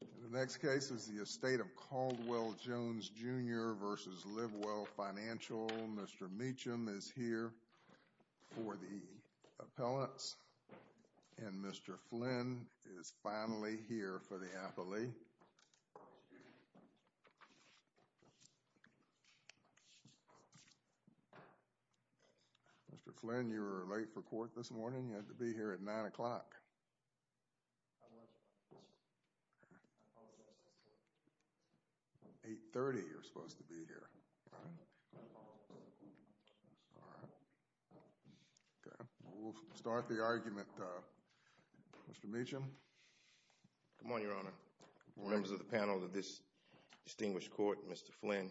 The next case is the Estate of Caldwell Jones, Jr. v. Live Well Financial. Mr. Meacham is here for the appellants. And Mr. Flynn is finally here for the appellee. Mr. Flynn, you were late for court this morning. You had to be here at 9 o'clock. 8.30 you were supposed to be here. We'll start the argument. Mr. Meacham. Good morning, Your Honor. Members of the panel of this distinguished court, Mr. Flynn,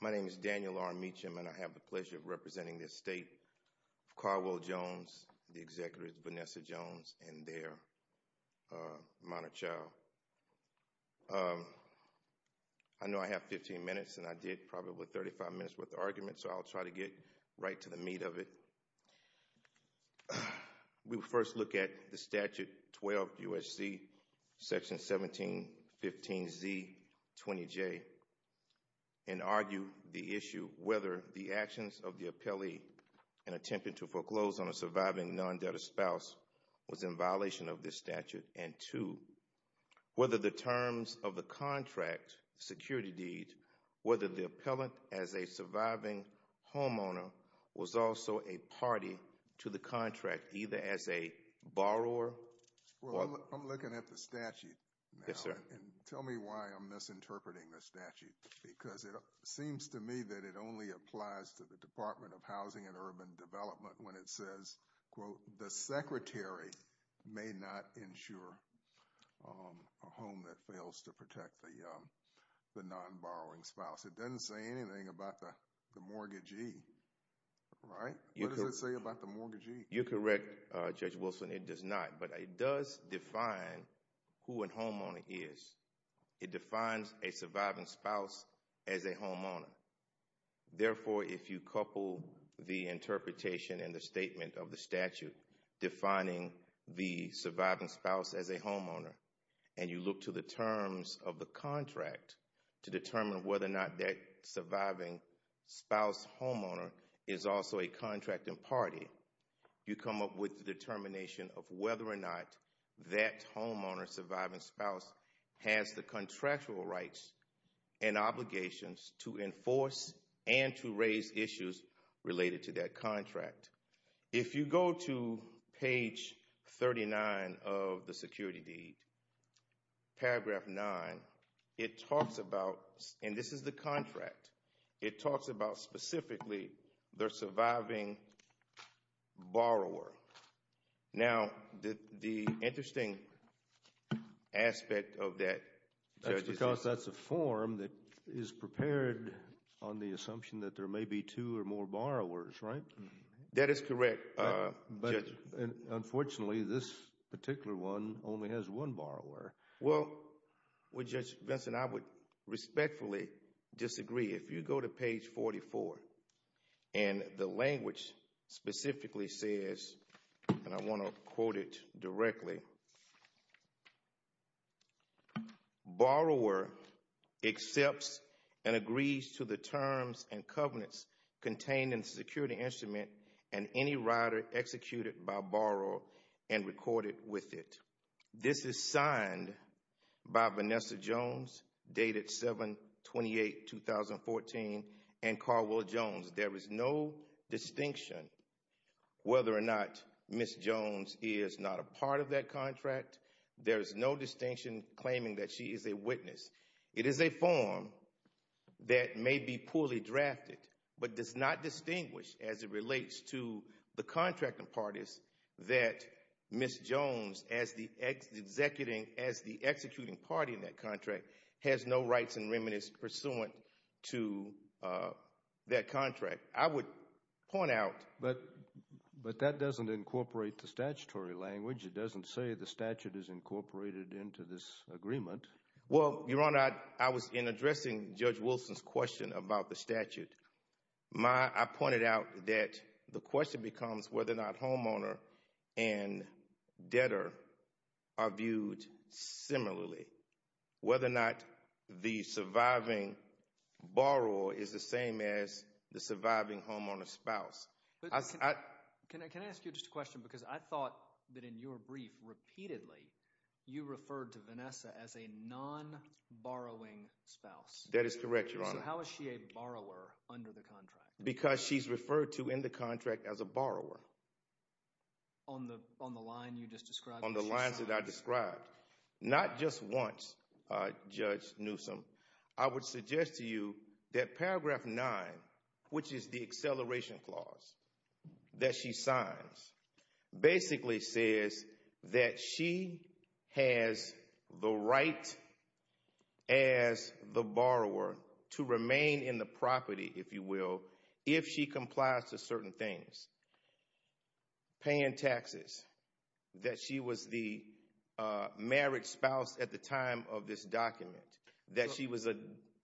my name is Daniel R. Meacham, and I have the pleasure of representing the Estate of Caldwell Jones, the Executives Vanessa Jones and their minor child. I know I have 15 minutes, and I did probably 35 minutes worth of argument, so I'll try to get right to the meat of it. We will first look at the Statute 12 U.S.C. section 1715Z20J and argue the issue whether the actions of the appellee in attempting to foreclose on a surviving non-debtor spouse was in violation of this statute, and two, whether the terms of the contract security deed, whether the appellant as a surviving homeowner was also a party to the contract, either as a borrower. I'm looking at the statute now. Yes, sir. And tell me why I'm misinterpreting the statute, because it seems to me that it only applies to the Department of Housing and Urban Development when it says, quote, the secretary may not insure a home that fails to protect the non-borrowing spouse. It doesn't say anything about the mortgagee, right? What does it say about the mortgagee? You're correct, Judge Wilson. It does not, but it does define who a homeowner is. It defines a surviving spouse as a homeowner. Therefore, if you couple the interpretation and the statement of the statute defining the surviving spouse as a homeowner and you look to the terms of the contract to determine whether or not that surviving spouse homeowner is also a contracting party, you come up with the determination of whether or not that homeowner surviving spouse has the contractual rights and obligations to enforce and to raise issues related to that contract. If you go to page 39 of the security deed, paragraph 9, it talks about, and this is the contract, it talks about specifically the surviving borrower. Now, the interesting aspect of that, Judge, is that... That's because that's a form that is prepared on the assumption that there may be two or more borrowers, right? That is correct, Judge. Unfortunately, this particular one only has one borrower. Well, Judge Benson, I would respectfully disagree. If you go to page 44 and the language specifically says, and I want to quote it directly, borrower accepts and agrees to the terms and covenants contained in the security instrument and any rider executed by borrower and recorded with it. This is signed by Vanessa Jones, dated 7-28-2014, and Carwell Jones. There is no distinction whether or not Ms. Jones is not a part of that contract. There is no distinction claiming that she is a witness. It is a form that may be poorly drafted but does not distinguish as it relates to the contracting parties that Ms. Jones, as the executing party in that contract, has no rights and remedies pursuant to that contract. I would point out... But that doesn't incorporate the statutory language. It doesn't say the statute is incorporated into this agreement. Well, Your Honor, I was in addressing Judge Wilson's question about the statute. I pointed out that the question becomes whether or not homeowner and debtor are viewed similarly, whether or not the surviving borrower is the same as the surviving homeowner's spouse. Can I ask you just a question? Because I thought that in your brief repeatedly you referred to Vanessa as a non-borrowing spouse. That is correct, Your Honor. So how is she a borrower under the contract? Because she's referred to in the contract as a borrower. On the line you just described? On the lines that I described. Not just once, Judge Newsom. I would suggest to you that Paragraph 9, which is the acceleration clause that she signs, basically says that she has the right as the borrower to remain in the property, if you will, if she complies to certain things. Paying taxes, that she was the marriage spouse at the time of this document, that she was a...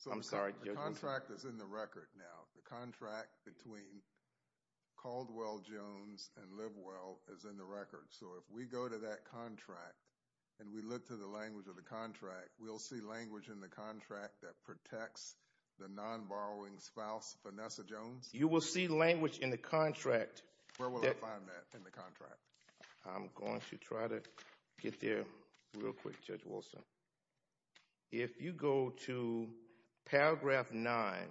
The contract is in the record now. The contract between Caldwell Jones and Livewell is in the record. So if we go to that contract and we look to the language of the contract, we'll see language in the contract that protects the non-borrowing spouse, Vanessa Jones? You will see language in the contract... Where will I find that in the contract? I'm going to try to get there real quick, Judge Wilson. If you go to Paragraph 9A1,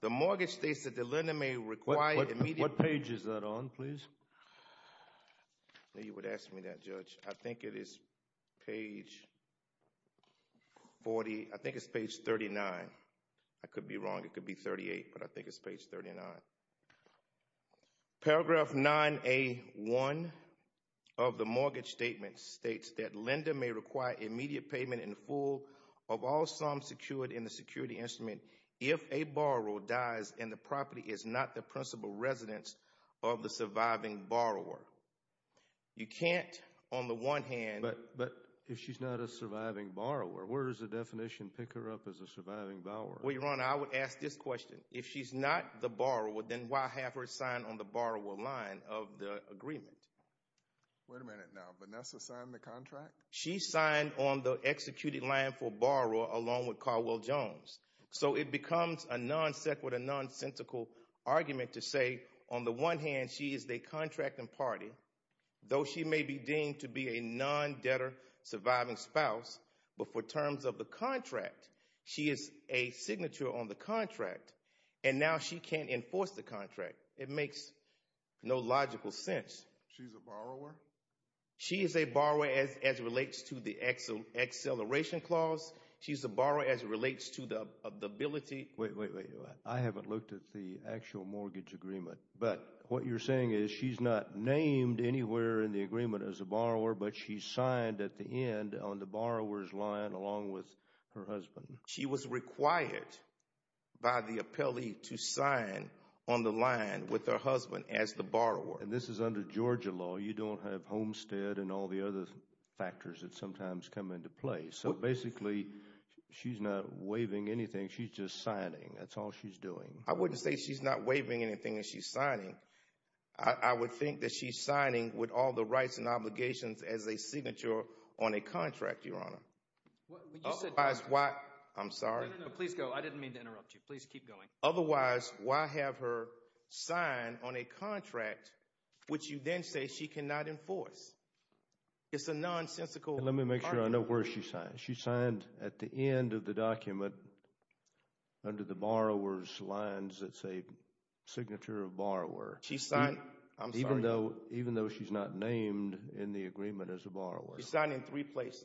the mortgage states that the lender may require immediate... What page is that on, please? You would ask me that, Judge. I think it is page 40. I think it's page 39. I could be wrong. It could be 38, but I think it's page 39. Paragraph 9A1 of the mortgage statement states that lender may require immediate payment in full of all sums secured in the security instrument if a borrower dies and the property is not the principal residence of the surviving borrower. You can't, on the one hand... But if she's not a surviving borrower, where does the definition pick her up as a surviving borrower? Well, Your Honor, I would ask this question. If she's not the borrower, then why have her signed on the borrower line of the agreement? Wait a minute now. Vanessa signed the contract? She signed on the executed line for borrower along with Caldwell-Jones. So it becomes a non-sequitur, non-sensical argument to say, on the one hand, she is the contracting party. Though she may be deemed to be a non-debtor surviving spouse, but for terms of the contract, she is a signature on the contract, and now she can't enforce the contract. It makes no logical sense. She's a borrower? She is a borrower as it relates to the acceleration clause. She's a borrower as it relates to the ability... Wait, wait, wait. I haven't looked at the actual mortgage agreement. But what you're saying is she's not named anywhere in the agreement as a borrower, but she signed at the end on the borrower's line along with her husband. She was required by the appellee to sign on the line with her husband as the borrower. And this is under Georgia law. You don't have homestead and all the other factors that sometimes come into play. So basically, she's not waiving anything. She's just signing. That's all she's doing. I wouldn't say she's not waiving anything and she's signing. I would think that she's signing with all the rights and obligations as a signature on a contract, Your Honor. Otherwise, why... I'm sorry. Please go. I didn't mean to interrupt you. Please keep going. Otherwise, why have her sign on a contract which you then say she cannot enforce? It's a nonsensical... Let me make sure I know where she signed. She signed at the end of the document under the borrower's lines. It's a signature of borrower. She signed... I'm sorry. Even though she's not named in the agreement as a borrower. She signed in three places.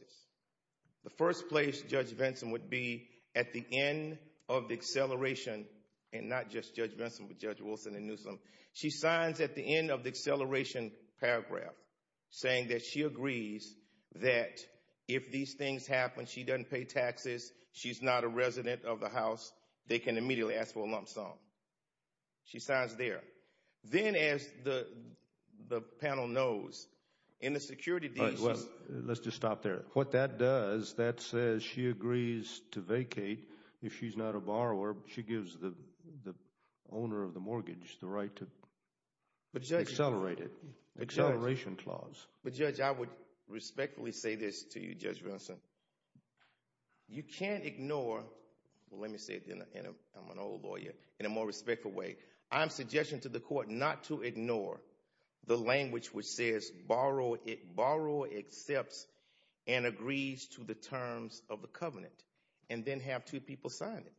The first place, Judge Vinson, would be at the end of the acceleration, and not just Judge Vinson but Judge Wilson and Newsom. She signs at the end of the acceleration paragraph saying that she agrees that if these things happen, she doesn't pay taxes, she's not a resident of the house, they can immediately ask for a lump sum. She signs there. Then, as the panel knows, in the security... Let's just stop there. What that does, that says she agrees to vacate if she's not a borrower. She gives the owner of the mortgage the right to accelerate it. Acceleration clause. But, Judge, I would respectfully say this to you, Judge Vinson. You can't ignore... Well, let me say it then. I'm an old lawyer. In a more respectful way, I'm suggesting to the court not to ignore the language which says borrower accepts and agrees to the terms of the covenant and then have two people sign it.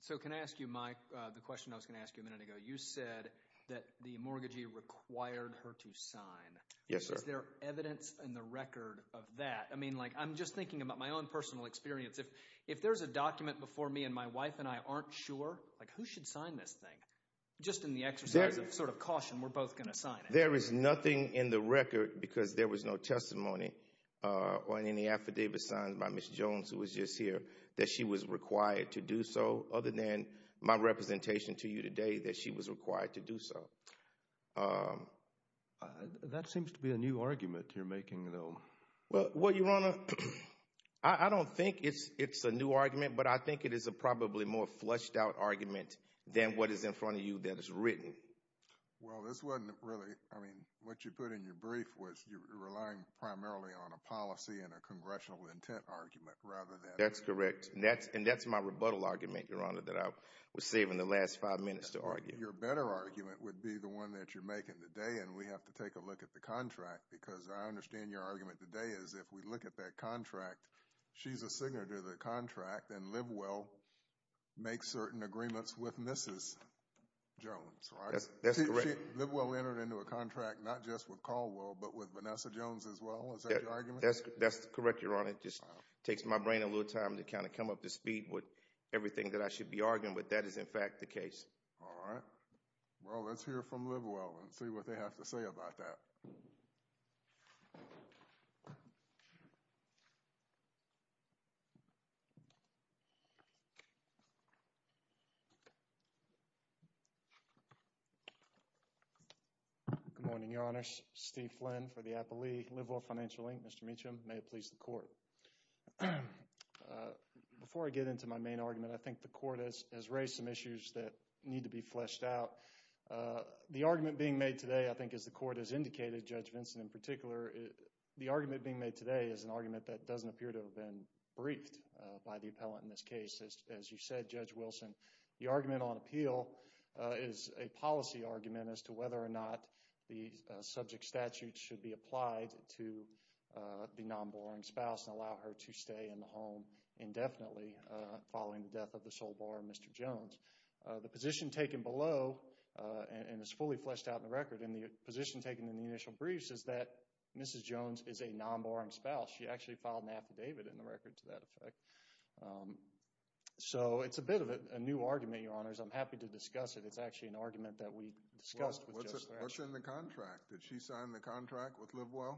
So can I ask you, Mike, the question I was going to ask you a minute ago? You said that the mortgagee required her to sign. Yes, sir. Is there evidence in the record of that? I mean, like I'm just thinking about my own personal experience. If there's a document before me and my wife and I aren't sure, like who should sign this thing? Just in the exercise of sort of caution, we're both going to sign it. There is nothing in the record, because there was no testimony or any affidavit signed by Ms. Jones who was just here, that she was required to do so, other than my representation to you today that she was required to do so. That seems to be a new argument you're making, though. Well, Your Honor, I don't think it's a new argument, but I think it is a probably more fleshed out argument than what is in front of you that is written. Well, this wasn't really, I mean, what you put in your brief was you're relying primarily on a policy and a congressional intent argument rather than— That's correct, and that's my rebuttal argument, Your Honor, that I was saving the last five minutes to argue. Your better argument would be the one that you're making today, and we have to take a look at the contract, because I understand your argument today is if we look at that contract, she's a signatory to the contract, and Livewell makes certain agreements with Mrs. Jones, right? That's correct. Livewell entered into a contract not just with Caldwell, but with Vanessa Jones as well. Is that your argument? That's correct, Your Honor. It just takes my brain a little time to kind of come up to speed with everything that I should be arguing with. That is, in fact, the case. All right. Well, let's hear from Livewell and see what they have to say about that. Good morning, Your Honor. Steve Flynn for the Appleeigh Livewell Financial, Inc. Mr. Meacham, may it please the Court. Before I get into my main argument, I think the Court has raised some issues that need to be fleshed out. The argument being made today, I think as the Court has indicated, Judge Vinson in particular, the argument being made today is an argument that doesn't appear to have been briefed by the appellant in this case, as you said, Judge Wilson. The argument on appeal is a policy argument as to whether or not the subject statute should be applied to the non-borrowing spouse and allow her to stay in the home indefinitely following the death of the sole borrower, Mr. Jones. The position taken below, and it's fully fleshed out in the record, and the position taken in the initial briefs is that Mrs. Jones is a non-borrowing spouse. She actually filed an affidavit in the record to that effect. So it's a bit of a new argument, Your Honors. I'm happy to discuss it. It's actually an argument that we discussed with Judge Flanagan. What's in the contract? Did she sign the contract with Livewell?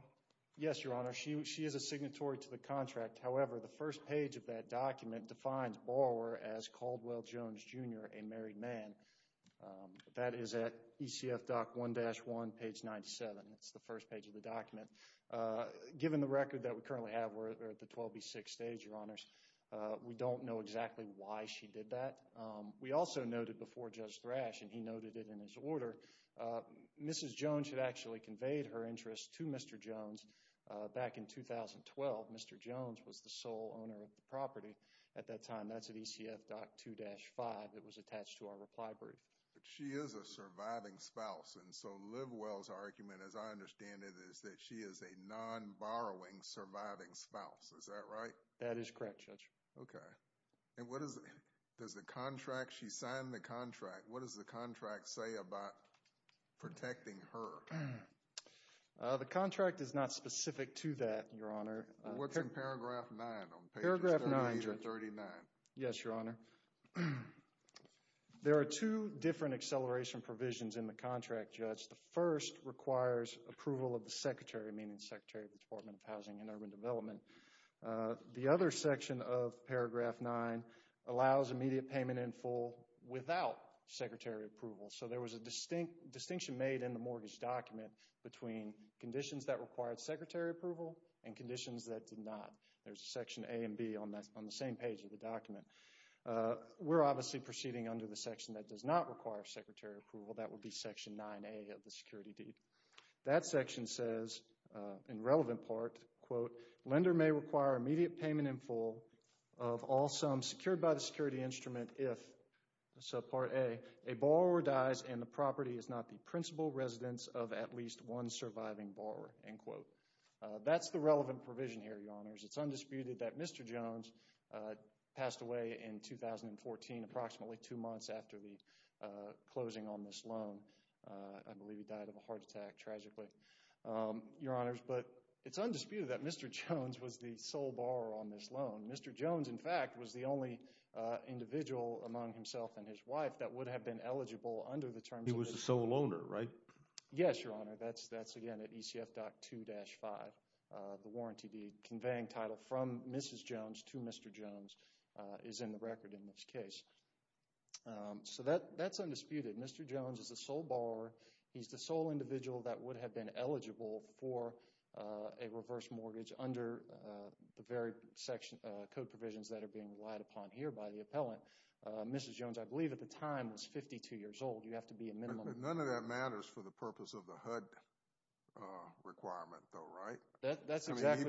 Yes, Your Honor. She is a signatory to the contract. However, the first page of that document defines borrower as Caldwell Jones, Jr., a married man. That is at ECF Doc 1-1, page 97. It's the first page of the document. Given the record that we currently have, we're at the 12B6 stage, Your Honors. We don't know exactly why she did that. We also noted before Judge Thrash, and he noted it in his order, Mrs. Jones had actually conveyed her interest to Mr. Jones back in 2012. Mr. Jones was the sole owner of the property at that time. That's at ECF Doc 2-5. It was attached to our reply brief. But she is a surviving spouse. And so Livewell's argument, as I understand it, is that she is a non-borrowing surviving spouse. Is that right? That is correct, Judge. Okay. And what does the contract—she signed the contract. What does the contract say about protecting her? The contract is not specific to that, Your Honor. What's in paragraph 9 on pages 38 or 39? Yes, Your Honor. There are two different acceleration provisions in the contract, Judge. The first requires approval of the secretary, meaning the Secretary of the Department of Housing and Urban Development. The other section of paragraph 9 allows immediate payment in full without secretary approval. So there was a distinction made in the mortgage document between conditions that required secretary approval and conditions that did not. There's section A and B on the same page of the document. We're obviously proceeding under the section that does not require secretary approval. That would be section 9A of the security deed. That section says, in relevant part, quote, lender may require immediate payment in full of all sums secured by the security instrument if, so part A, a borrower dies and the property is not the principal residence of at least one surviving borrower, end quote. That's the relevant provision here, Your Honors. It's undisputed that Mr. Jones passed away in 2014, approximately two months after the closing on this loan. I believe he died of a heart attack, tragically, Your Honors. But it's undisputed that Mr. Jones was the sole borrower on this loan. Mr. Jones, in fact, was the only individual among himself and his wife that would have been eligible under the terms of this loan. He was the sole loaner, right? Yes, Your Honor. That's, again, at ECF Doc 2-5. The warranty deed conveying title from Mrs. Jones to Mr. Jones is in the record in this case. So that's undisputed. Mr. Jones is the sole borrower. He's the sole individual that would have been eligible for a reverse mortgage under the very code provisions that are being relied upon here by the appellant. Mrs. Jones, I believe at the time, was 52 years old. You have to be a minimum. But none of that matters for the purpose of the HUD requirement, though, right? That's exactly—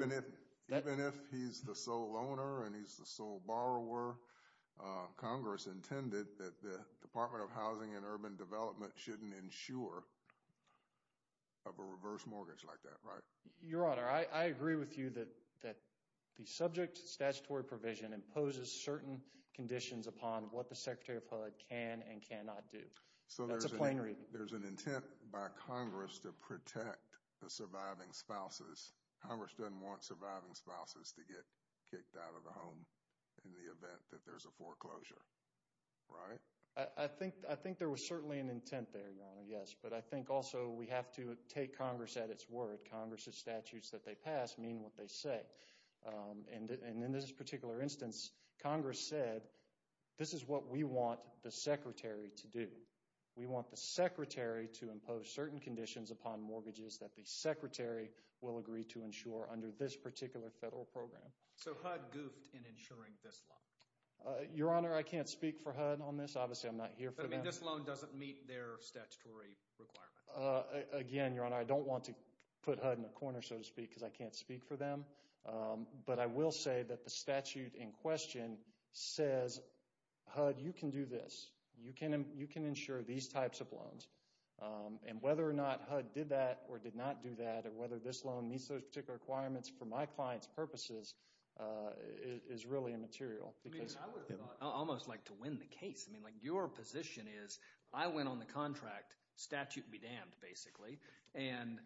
Even if he's the sole owner and he's the sole borrower, Congress intended that the Department of Housing and Urban Development shouldn't insure of a reverse mortgage like that, right? Your Honor, I agree with you that the subject statutory provision imposes certain conditions upon what the Secretary of HUD can and cannot do. That's a plain reading. So there's an intent by Congress to protect the surviving spouses. Congress doesn't want surviving spouses to get kicked out of the home in the event that there's a foreclosure, right? I think there was certainly an intent there, Your Honor, yes. But I think also we have to take Congress at its word. Congress's statutes that they pass mean what they say. And in this particular instance, Congress said, this is what we want the Secretary to do. We want the Secretary to impose certain conditions upon mortgages that the Secretary will agree to insure under this particular federal program. So HUD goofed in insuring this loan? Your Honor, I can't speak for HUD on this. Obviously, I'm not here for them. But, I mean, this loan doesn't meet their statutory requirements. Again, Your Honor, I don't want to put HUD in a corner, so to speak, because I can't speak for them. But I will say that the statute in question says, HUD, you can do this. You can insure these types of loans. And whether or not HUD did that or did not do that or whether this loan meets those particular requirements for my client's purposes is really immaterial. I would almost like to win the case. I mean, like your position is I went on the contract statute be damned, basically. And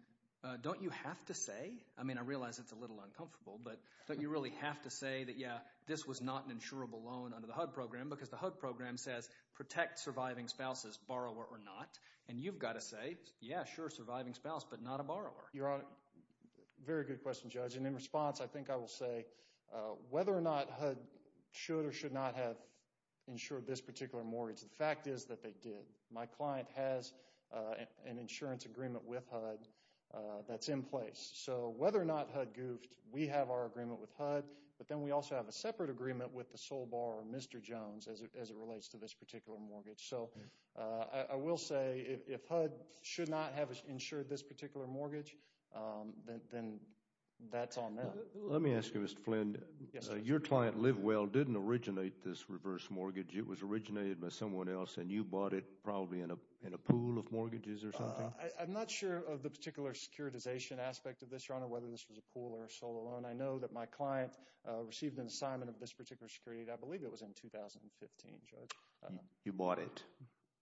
don't you have to say? I mean, I realize it's a little uncomfortable, but don't you really have to say that, yeah, this was not an insurable loan under the HUD program? Because the HUD program says protect surviving spouse as borrower or not. And you've got to say, yeah, sure, surviving spouse, but not a borrower. Your Honor, very good question, Judge. And in response, I think I will say whether or not HUD should or should not have insured this particular mortgage. The fact is that they did. My client has an insurance agreement with HUD that's in place. So whether or not HUD goofed, we have our agreement with HUD. But then we also have a separate agreement with the sole borrower, Mr. Jones, as it relates to this particular mortgage. So I will say if HUD should not have insured this particular mortgage, then that's on them. Let me ask you, Mr. Flynn. Your client, LiveWell, didn't originate this reverse mortgage. It was originated by someone else, and you bought it probably in a pool of mortgages or something? I'm not sure of the particular securitization aspect of this, Your Honor, whether this was a pool or a solo loan. I know that my client received an assignment of this particular security. I believe it was in 2015, Judge. You bought it,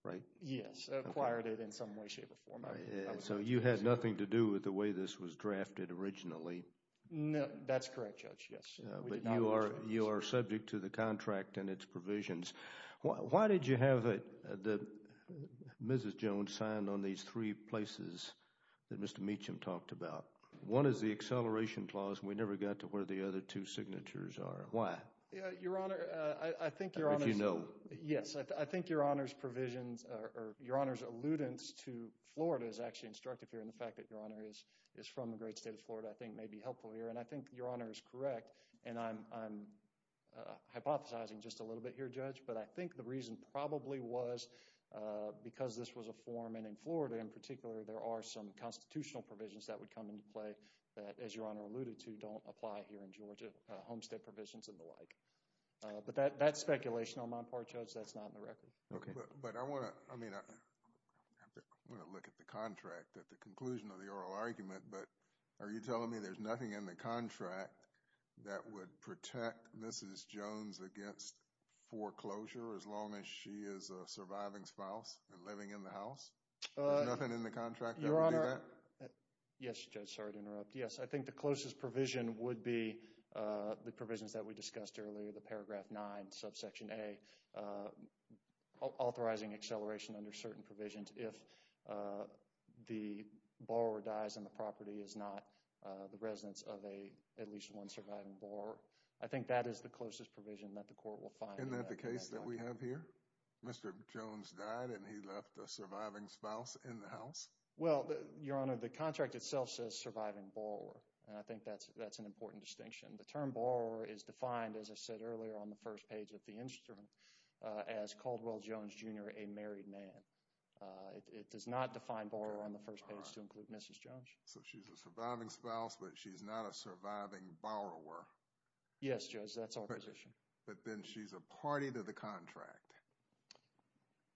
right? Yes, acquired it in some way, shape, or form. So you had nothing to do with the way this was drafted originally? No, that's correct, Judge, yes. But you are subject to the contract and its provisions. Why did you have Mrs. Jones signed on these three places that Mr. Meacham talked about? One is the acceleration clause. We never got to where the other two signatures are. Why? Your Honor, I think Your Honor's provisions or Your Honor's alludence to Florida is actually instructive here. And the fact that Your Honor is from the great state of Florida, I think, may be helpful here. And I think Your Honor is correct, and I'm hypothesizing just a little bit here, Judge, but I think the reason probably was because this was a form, and in Florida in particular, there are some constitutional provisions that would come into play that, as Your Honor alluded to, don't apply here in Georgia, homestead provisions and the like. But that's speculation on my part, Judge. That's not in the record. But I want to look at the contract at the conclusion of the oral argument. But are you telling me there's nothing in the contract that would protect Mrs. Jones against foreclosure as long as she is a surviving spouse and living in the house? There's nothing in the contract that would do that? Your Honor, yes, Judge, sorry to interrupt. Yes, I think the closest provision would be the provisions that we discussed earlier, the paragraph 9, subsection A, authorizing acceleration under certain provisions if the borrower dies and the property is not the residence of at least one surviving borrower. I think that is the closest provision that the court will find. Isn't that the case that we have here? Mr. Jones died and he left a surviving spouse in the house? Well, Your Honor, the contract itself says surviving borrower, and I think that's an important distinction. The term borrower is defined, as I said earlier on the first page of the instrument, as Caldwell Jones, Jr., a married man. It does not define borrower on the first page to include Mrs. Jones. So she's a surviving spouse, but she's not a surviving borrower. Yes, Judge, that's our position. But then she's a party to the contract.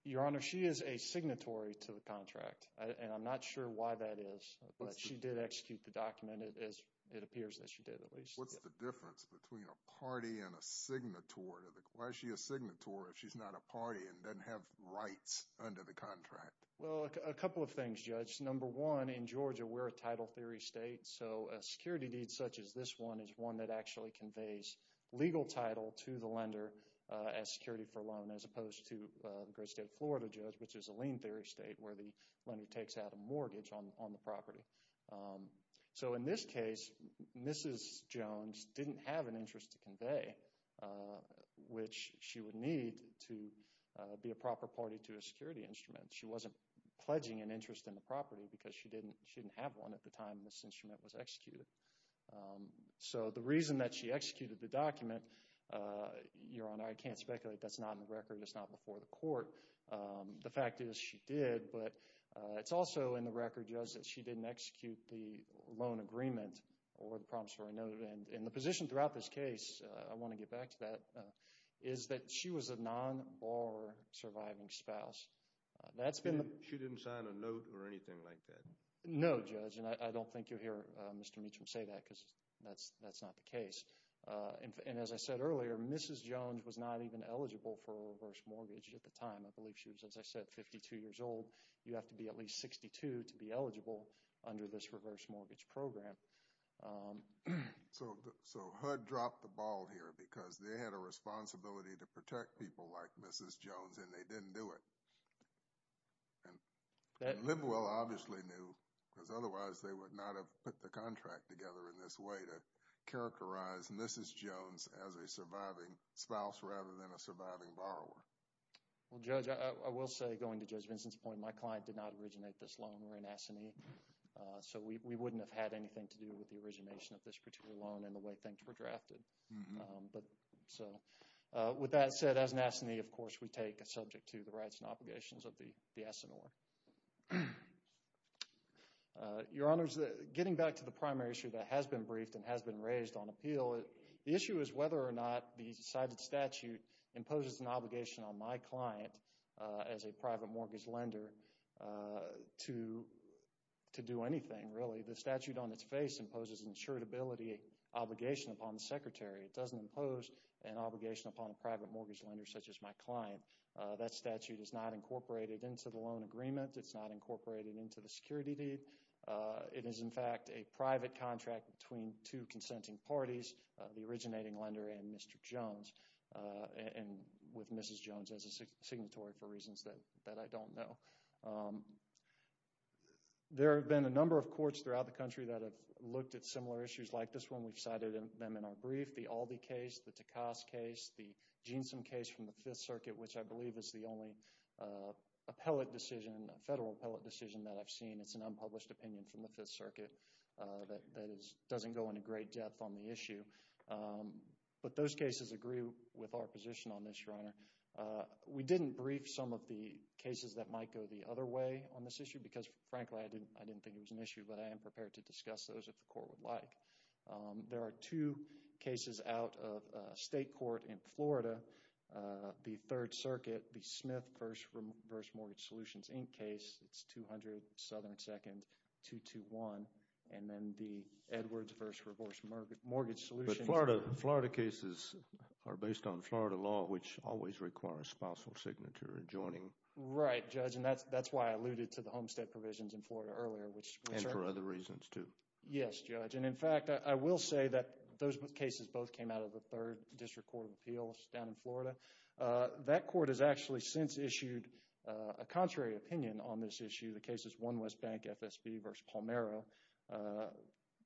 Your Honor, she is a signatory to the contract, and I'm not sure why that is. But she did execute the document, as it appears that she did, at least. What's the difference between a party and a signatory? Why is she a signatory if she's not a party and doesn't have rights under the contract? Well, a couple of things, Judge. Number one, in Georgia, we're a title theory state, so a security deed such as this one is one that actually conveys legal title to the lender as security for a loan, as opposed to the great state of Florida, Judge, which is a lien theory state where the lender takes out a mortgage on the property. So in this case, Mrs. Jones didn't have an interest to convey, which she would need to be a proper party to a security instrument. She wasn't pledging an interest in the property because she didn't have one at the time this instrument was executed. So the reason that she executed the document, Your Honor, I can't speculate. That's not in the record. It's not before the court. The fact is she did, but it's also in the record, Judge, that she didn't execute the loan agreement or the promissory note. And the position throughout this case, I want to get back to that, is that she was a non-bar surviving spouse. She didn't sign a note or anything like that? No, Judge, and I don't think you'll hear Mr. Meacham say that because that's not the case. And as I said earlier, Mrs. Jones was not even eligible for a reverse mortgage at the time. I believe she was, as I said, 52 years old. You have to be at least 62 to be eligible under this reverse mortgage program. So HUD dropped the ball here because they had a responsibility to protect people like Mrs. Jones, and they didn't do it. And Livewell obviously knew because otherwise they would not have put the contract together in this way to characterize Mrs. Jones as a surviving spouse rather than a surviving borrower. Well, Judge, I will say, going to Judge Vincent's point, my client did not originate this loan. We're in assignee. So we wouldn't have had anything to do with the origination of this particular loan in the way things were drafted. So with that said, as an assignee, of course, we take subject to the rights and obligations of the S&R. Your Honors, getting back to the primary issue that has been briefed and has been raised on appeal, the issue is whether or not the decided statute imposes an obligation on my client as a private mortgage lender to do anything, really. The statute on its face imposes an insurability obligation upon the Secretary. It doesn't impose an obligation upon a private mortgage lender such as my client. That statute is not incorporated into the loan agreement. It's not incorporated into the security deed. It is, in fact, a private contract between two consenting parties, the originating lender and Mr. Jones, and with Mrs. Jones as a signatory for reasons that I don't know. There have been a number of courts throughout the country that have looked at similar issues like this one. We've cited them in our brief. The Aldi case, the Takas case, the Jeansome case from the Fifth Circuit, which I believe is the only appellate decision, federal appellate decision that I've seen. It's an unpublished opinion from the Fifth Circuit that doesn't go into great depth on the issue. But those cases agree with our position on this, Your Honor. We didn't brief some of the cases that might go the other way on this issue because, frankly, I didn't think it was an issue. But I am prepared to discuss those if the court would like. There are two cases out of state court in Florida, the Third Circuit, the Smith v. Mortgage Solutions, Inc. case. It's 200 Southern 2nd, 221, and then the Edwards v. Reverse Mortgage Solutions. But Florida cases are based on Florida law, which always requires spousal signature adjoining. Right, Judge. And that's why I alluded to the homestead provisions in Florida earlier. And for other reasons, too. Yes, Judge. And, in fact, I will say that those cases both came out of the Third District Court of Appeals down in Florida. That court has actually since issued a contrary opinion on this issue. The case is 1 West Bank FSB v. Palmera.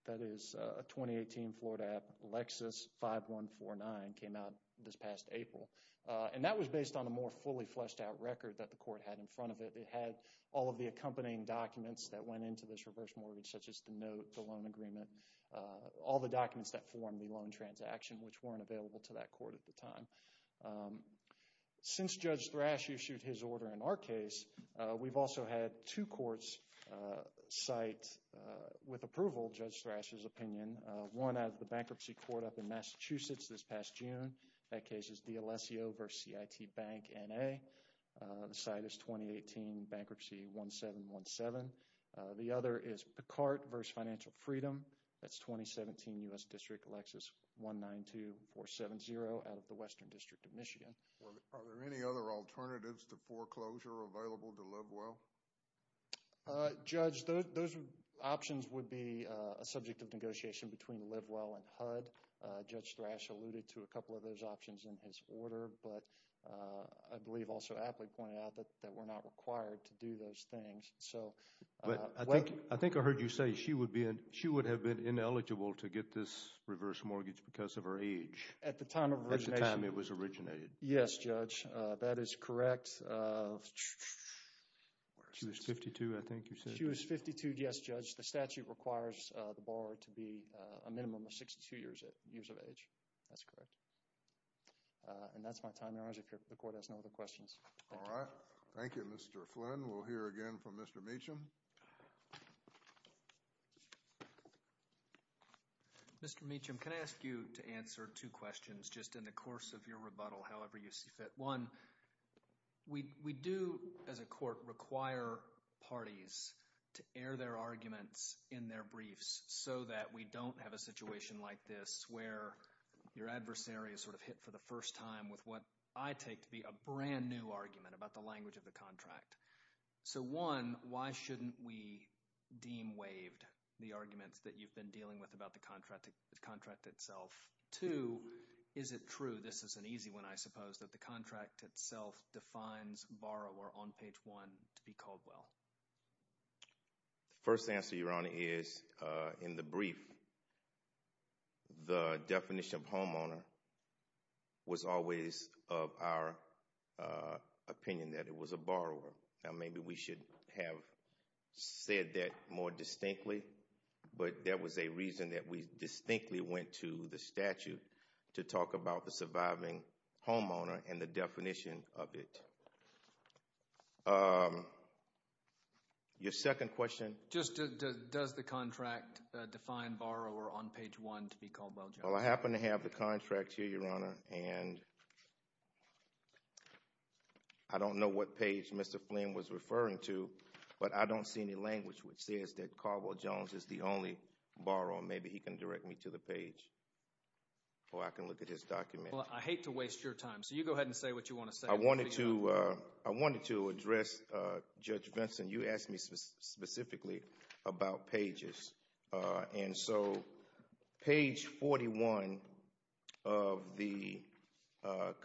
That is a 2018 Florida app. Lexus 5149 came out this past April. And that was based on a more fully fleshed out record that the court had in front of it. It had all of the accompanying documents that went into this reverse mortgage, such as the note, the loan agreement, all the documents that formed the loan transaction, which weren't available to that court at the time. Since Judge Thrash issued his order in our case, we've also had two courts cite with approval Judge Thrash's opinion. One out of the bankruptcy court up in Massachusetts this past June. That case is D'Alessio v. CIT Bank NA. The cite is 2018 Bankruptcy 1717. The other is Picard v. Financial Freedom. That's 2017 U.S. District Lexus 192470 out of the Western District of Michigan. Are there any other alternatives to foreclosure available to LiveWell? Judge, those options would be a subject of negotiation between LiveWell and HUD. Judge Thrash alluded to a couple of those options in his order. But I believe also Apley pointed out that we're not required to do those things. I think I heard you say she would have been ineligible to get this reverse mortgage because of her age. At the time of origination. At the time it was originated. Yes, Judge. That is correct. She was 52, I think you said. She was 52, yes, Judge. The statute requires the borrower to be a minimum of 62 years of age. That's correct. And that's my time, Your Honor. The court has no other questions. All right. Thank you, Mr. Flynn. We'll hear again from Mr. Meacham. Mr. Meacham, can I ask you to answer two questions just in the course of your rebuttal however you see fit? One, we do as a court require parties to air their arguments in their briefs so that we don't have a situation like this where your adversary is sort of hit for the first time with what I take to be a brand new argument about the language of the contract. So one, why shouldn't we deem waived the arguments that you've been dealing with about the contract itself? Two, is it true, this is an easy one I suppose, that the contract itself defines borrower on page one to be Caldwell? The first answer, Your Honor, is in the brief, the definition of homeowner was always of our opinion that it was a borrower. Now maybe we should have said that more distinctly, but that was a reason that we distinctly went to the statute to talk about the surviving homeowner and the definition of it. Your second question? Just does the contract define borrower on page one to be Caldwell Jones? Well, I happen to have the contract here, Your Honor, and I don't know what page Mr. Flynn was referring to, but I don't see any language which says that Caldwell Jones is the only borrower. Maybe he can direct me to the page or I can look at his document. Well, I hate to waste your time, so you go ahead and say what you want to say. I wanted to address, Judge Vinson, you asked me specifically about pages. And so page 41 of the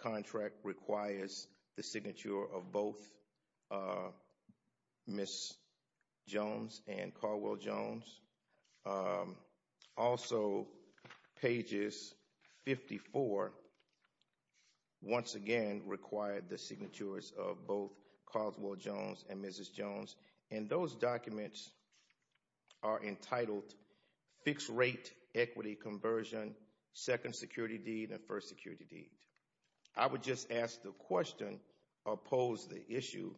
contract requires the signature of both Ms. Jones and Caldwell Jones. Also, pages 54 once again require the signatures of both Caldwell Jones and Mrs. Jones. And those documents are entitled Fixed Rate Equity Conversion, Second Security Deed, and First Security Deed. I would just ask the question or pose the issue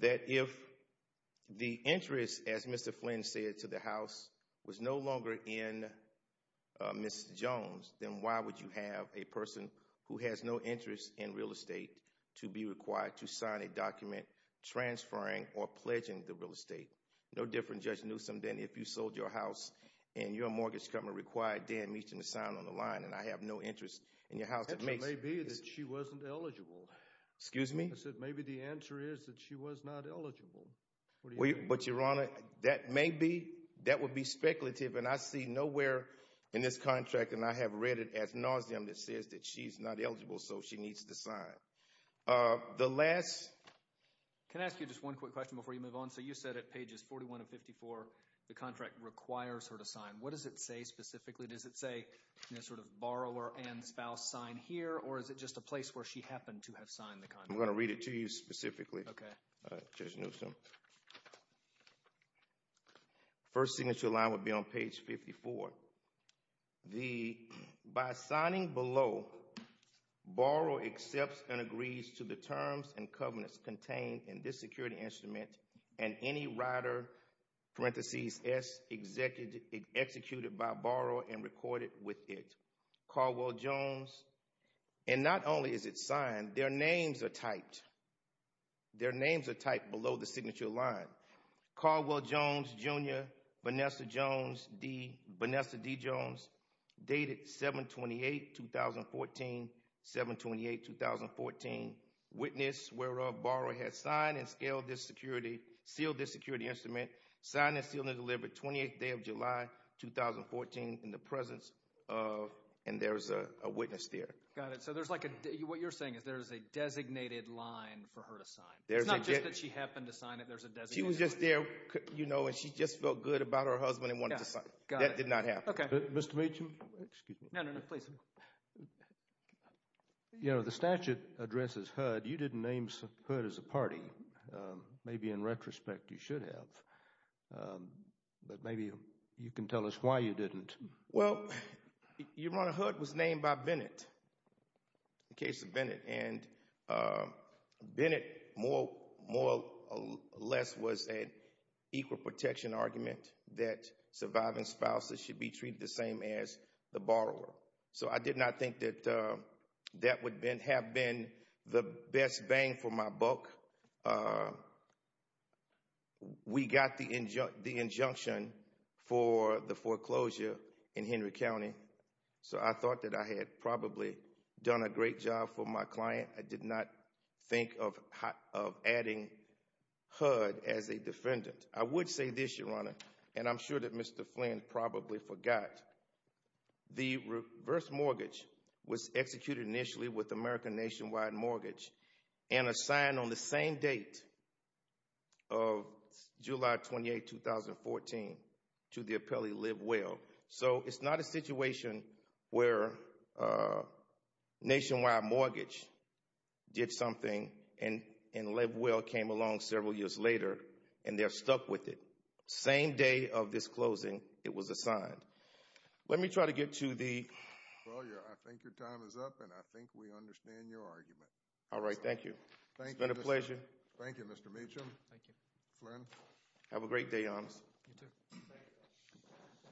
that if the interest, as Mr. Flynn said, to the house was no longer in Mrs. Jones, then why would you have a person who has no interest in real estate to be required to sign a document transferring or pledging the real estate? No different, Judge Newsom, than if you sold your house and your mortgage company required Dan Meacham to sign on the line and I have no interest in your house. The answer may be that she wasn't eligible. Excuse me? I said maybe the answer is that she was not eligible. But, Your Honor, that may be. That would be speculative. And I see nowhere in this contract, and I have read it ad nauseam, that says that she's not eligible, so she needs to sign. The last— Can I ask you just one quick question before you move on? So you said at pages 41 and 54 the contract requires her to sign. What does it say specifically? Does it say sort of borrower and spouse sign here, or is it just a place where she happened to have signed the contract? I'm going to read it to you specifically, Judge Newsom. First signature line would be on page 54. By signing below, borrower accepts and agrees to the terms and covenants contained in this security instrument and any rider parentheses S executed by borrower and recorded with it. Caldwell Jones, and not only is it signed, their names are typed. Their names are typed below the signature line. Caldwell Jones, Jr., Vanessa D. Jones, dated 7-28-2014, 7-28-2014, witness whereof borrower had signed and sealed this security instrument, signed and sealed and delivered 28th day of July 2014 in the presence of—and there's a witness there. Got it. So there's like a—what you're saying is there's a designated line for her to sign. It's not just that she happened to sign it. There's a designated line. She was just there, and she just felt good about her husband and wanted to sign it. Got it. That did not happen. Okay. Mr. Meacham, excuse me. No, no, no. Please. The statute addresses HUD. You didn't name HUD as a party. Maybe in retrospect you should have, but maybe you can tell us why you didn't. Well, Your Honor, HUD was named by Bennett, in case of Bennett, and Bennett more or less was an equal protection argument that surviving spouses should be treated the same as the borrower. So I did not think that that would have been the best bang for my buck. We got the injunction for the foreclosure in Henry County, so I thought that I had probably done a great job for my client. I did not think of adding HUD as a defendant. I would say this, Your Honor, and I'm sure that Mr. Flynn probably forgot. The reverse mortgage was executed initially with American Nationwide Mortgage and assigned on the same date of July 28, 2014, to the appellee, Live Well. So it's not a situation where Nationwide Mortgage did something and Live Well came along several years later and they're stuck with it. Same day of this closing, it was assigned. Let me try to get to the... Well, I think your time is up and I think we understand your argument. All right, thank you. Thank you, Mr. Meacham. It's been a pleasure. Thank you, Mr. Meacham. Thank you. Flynn. Have a great day, Your Honor. You too.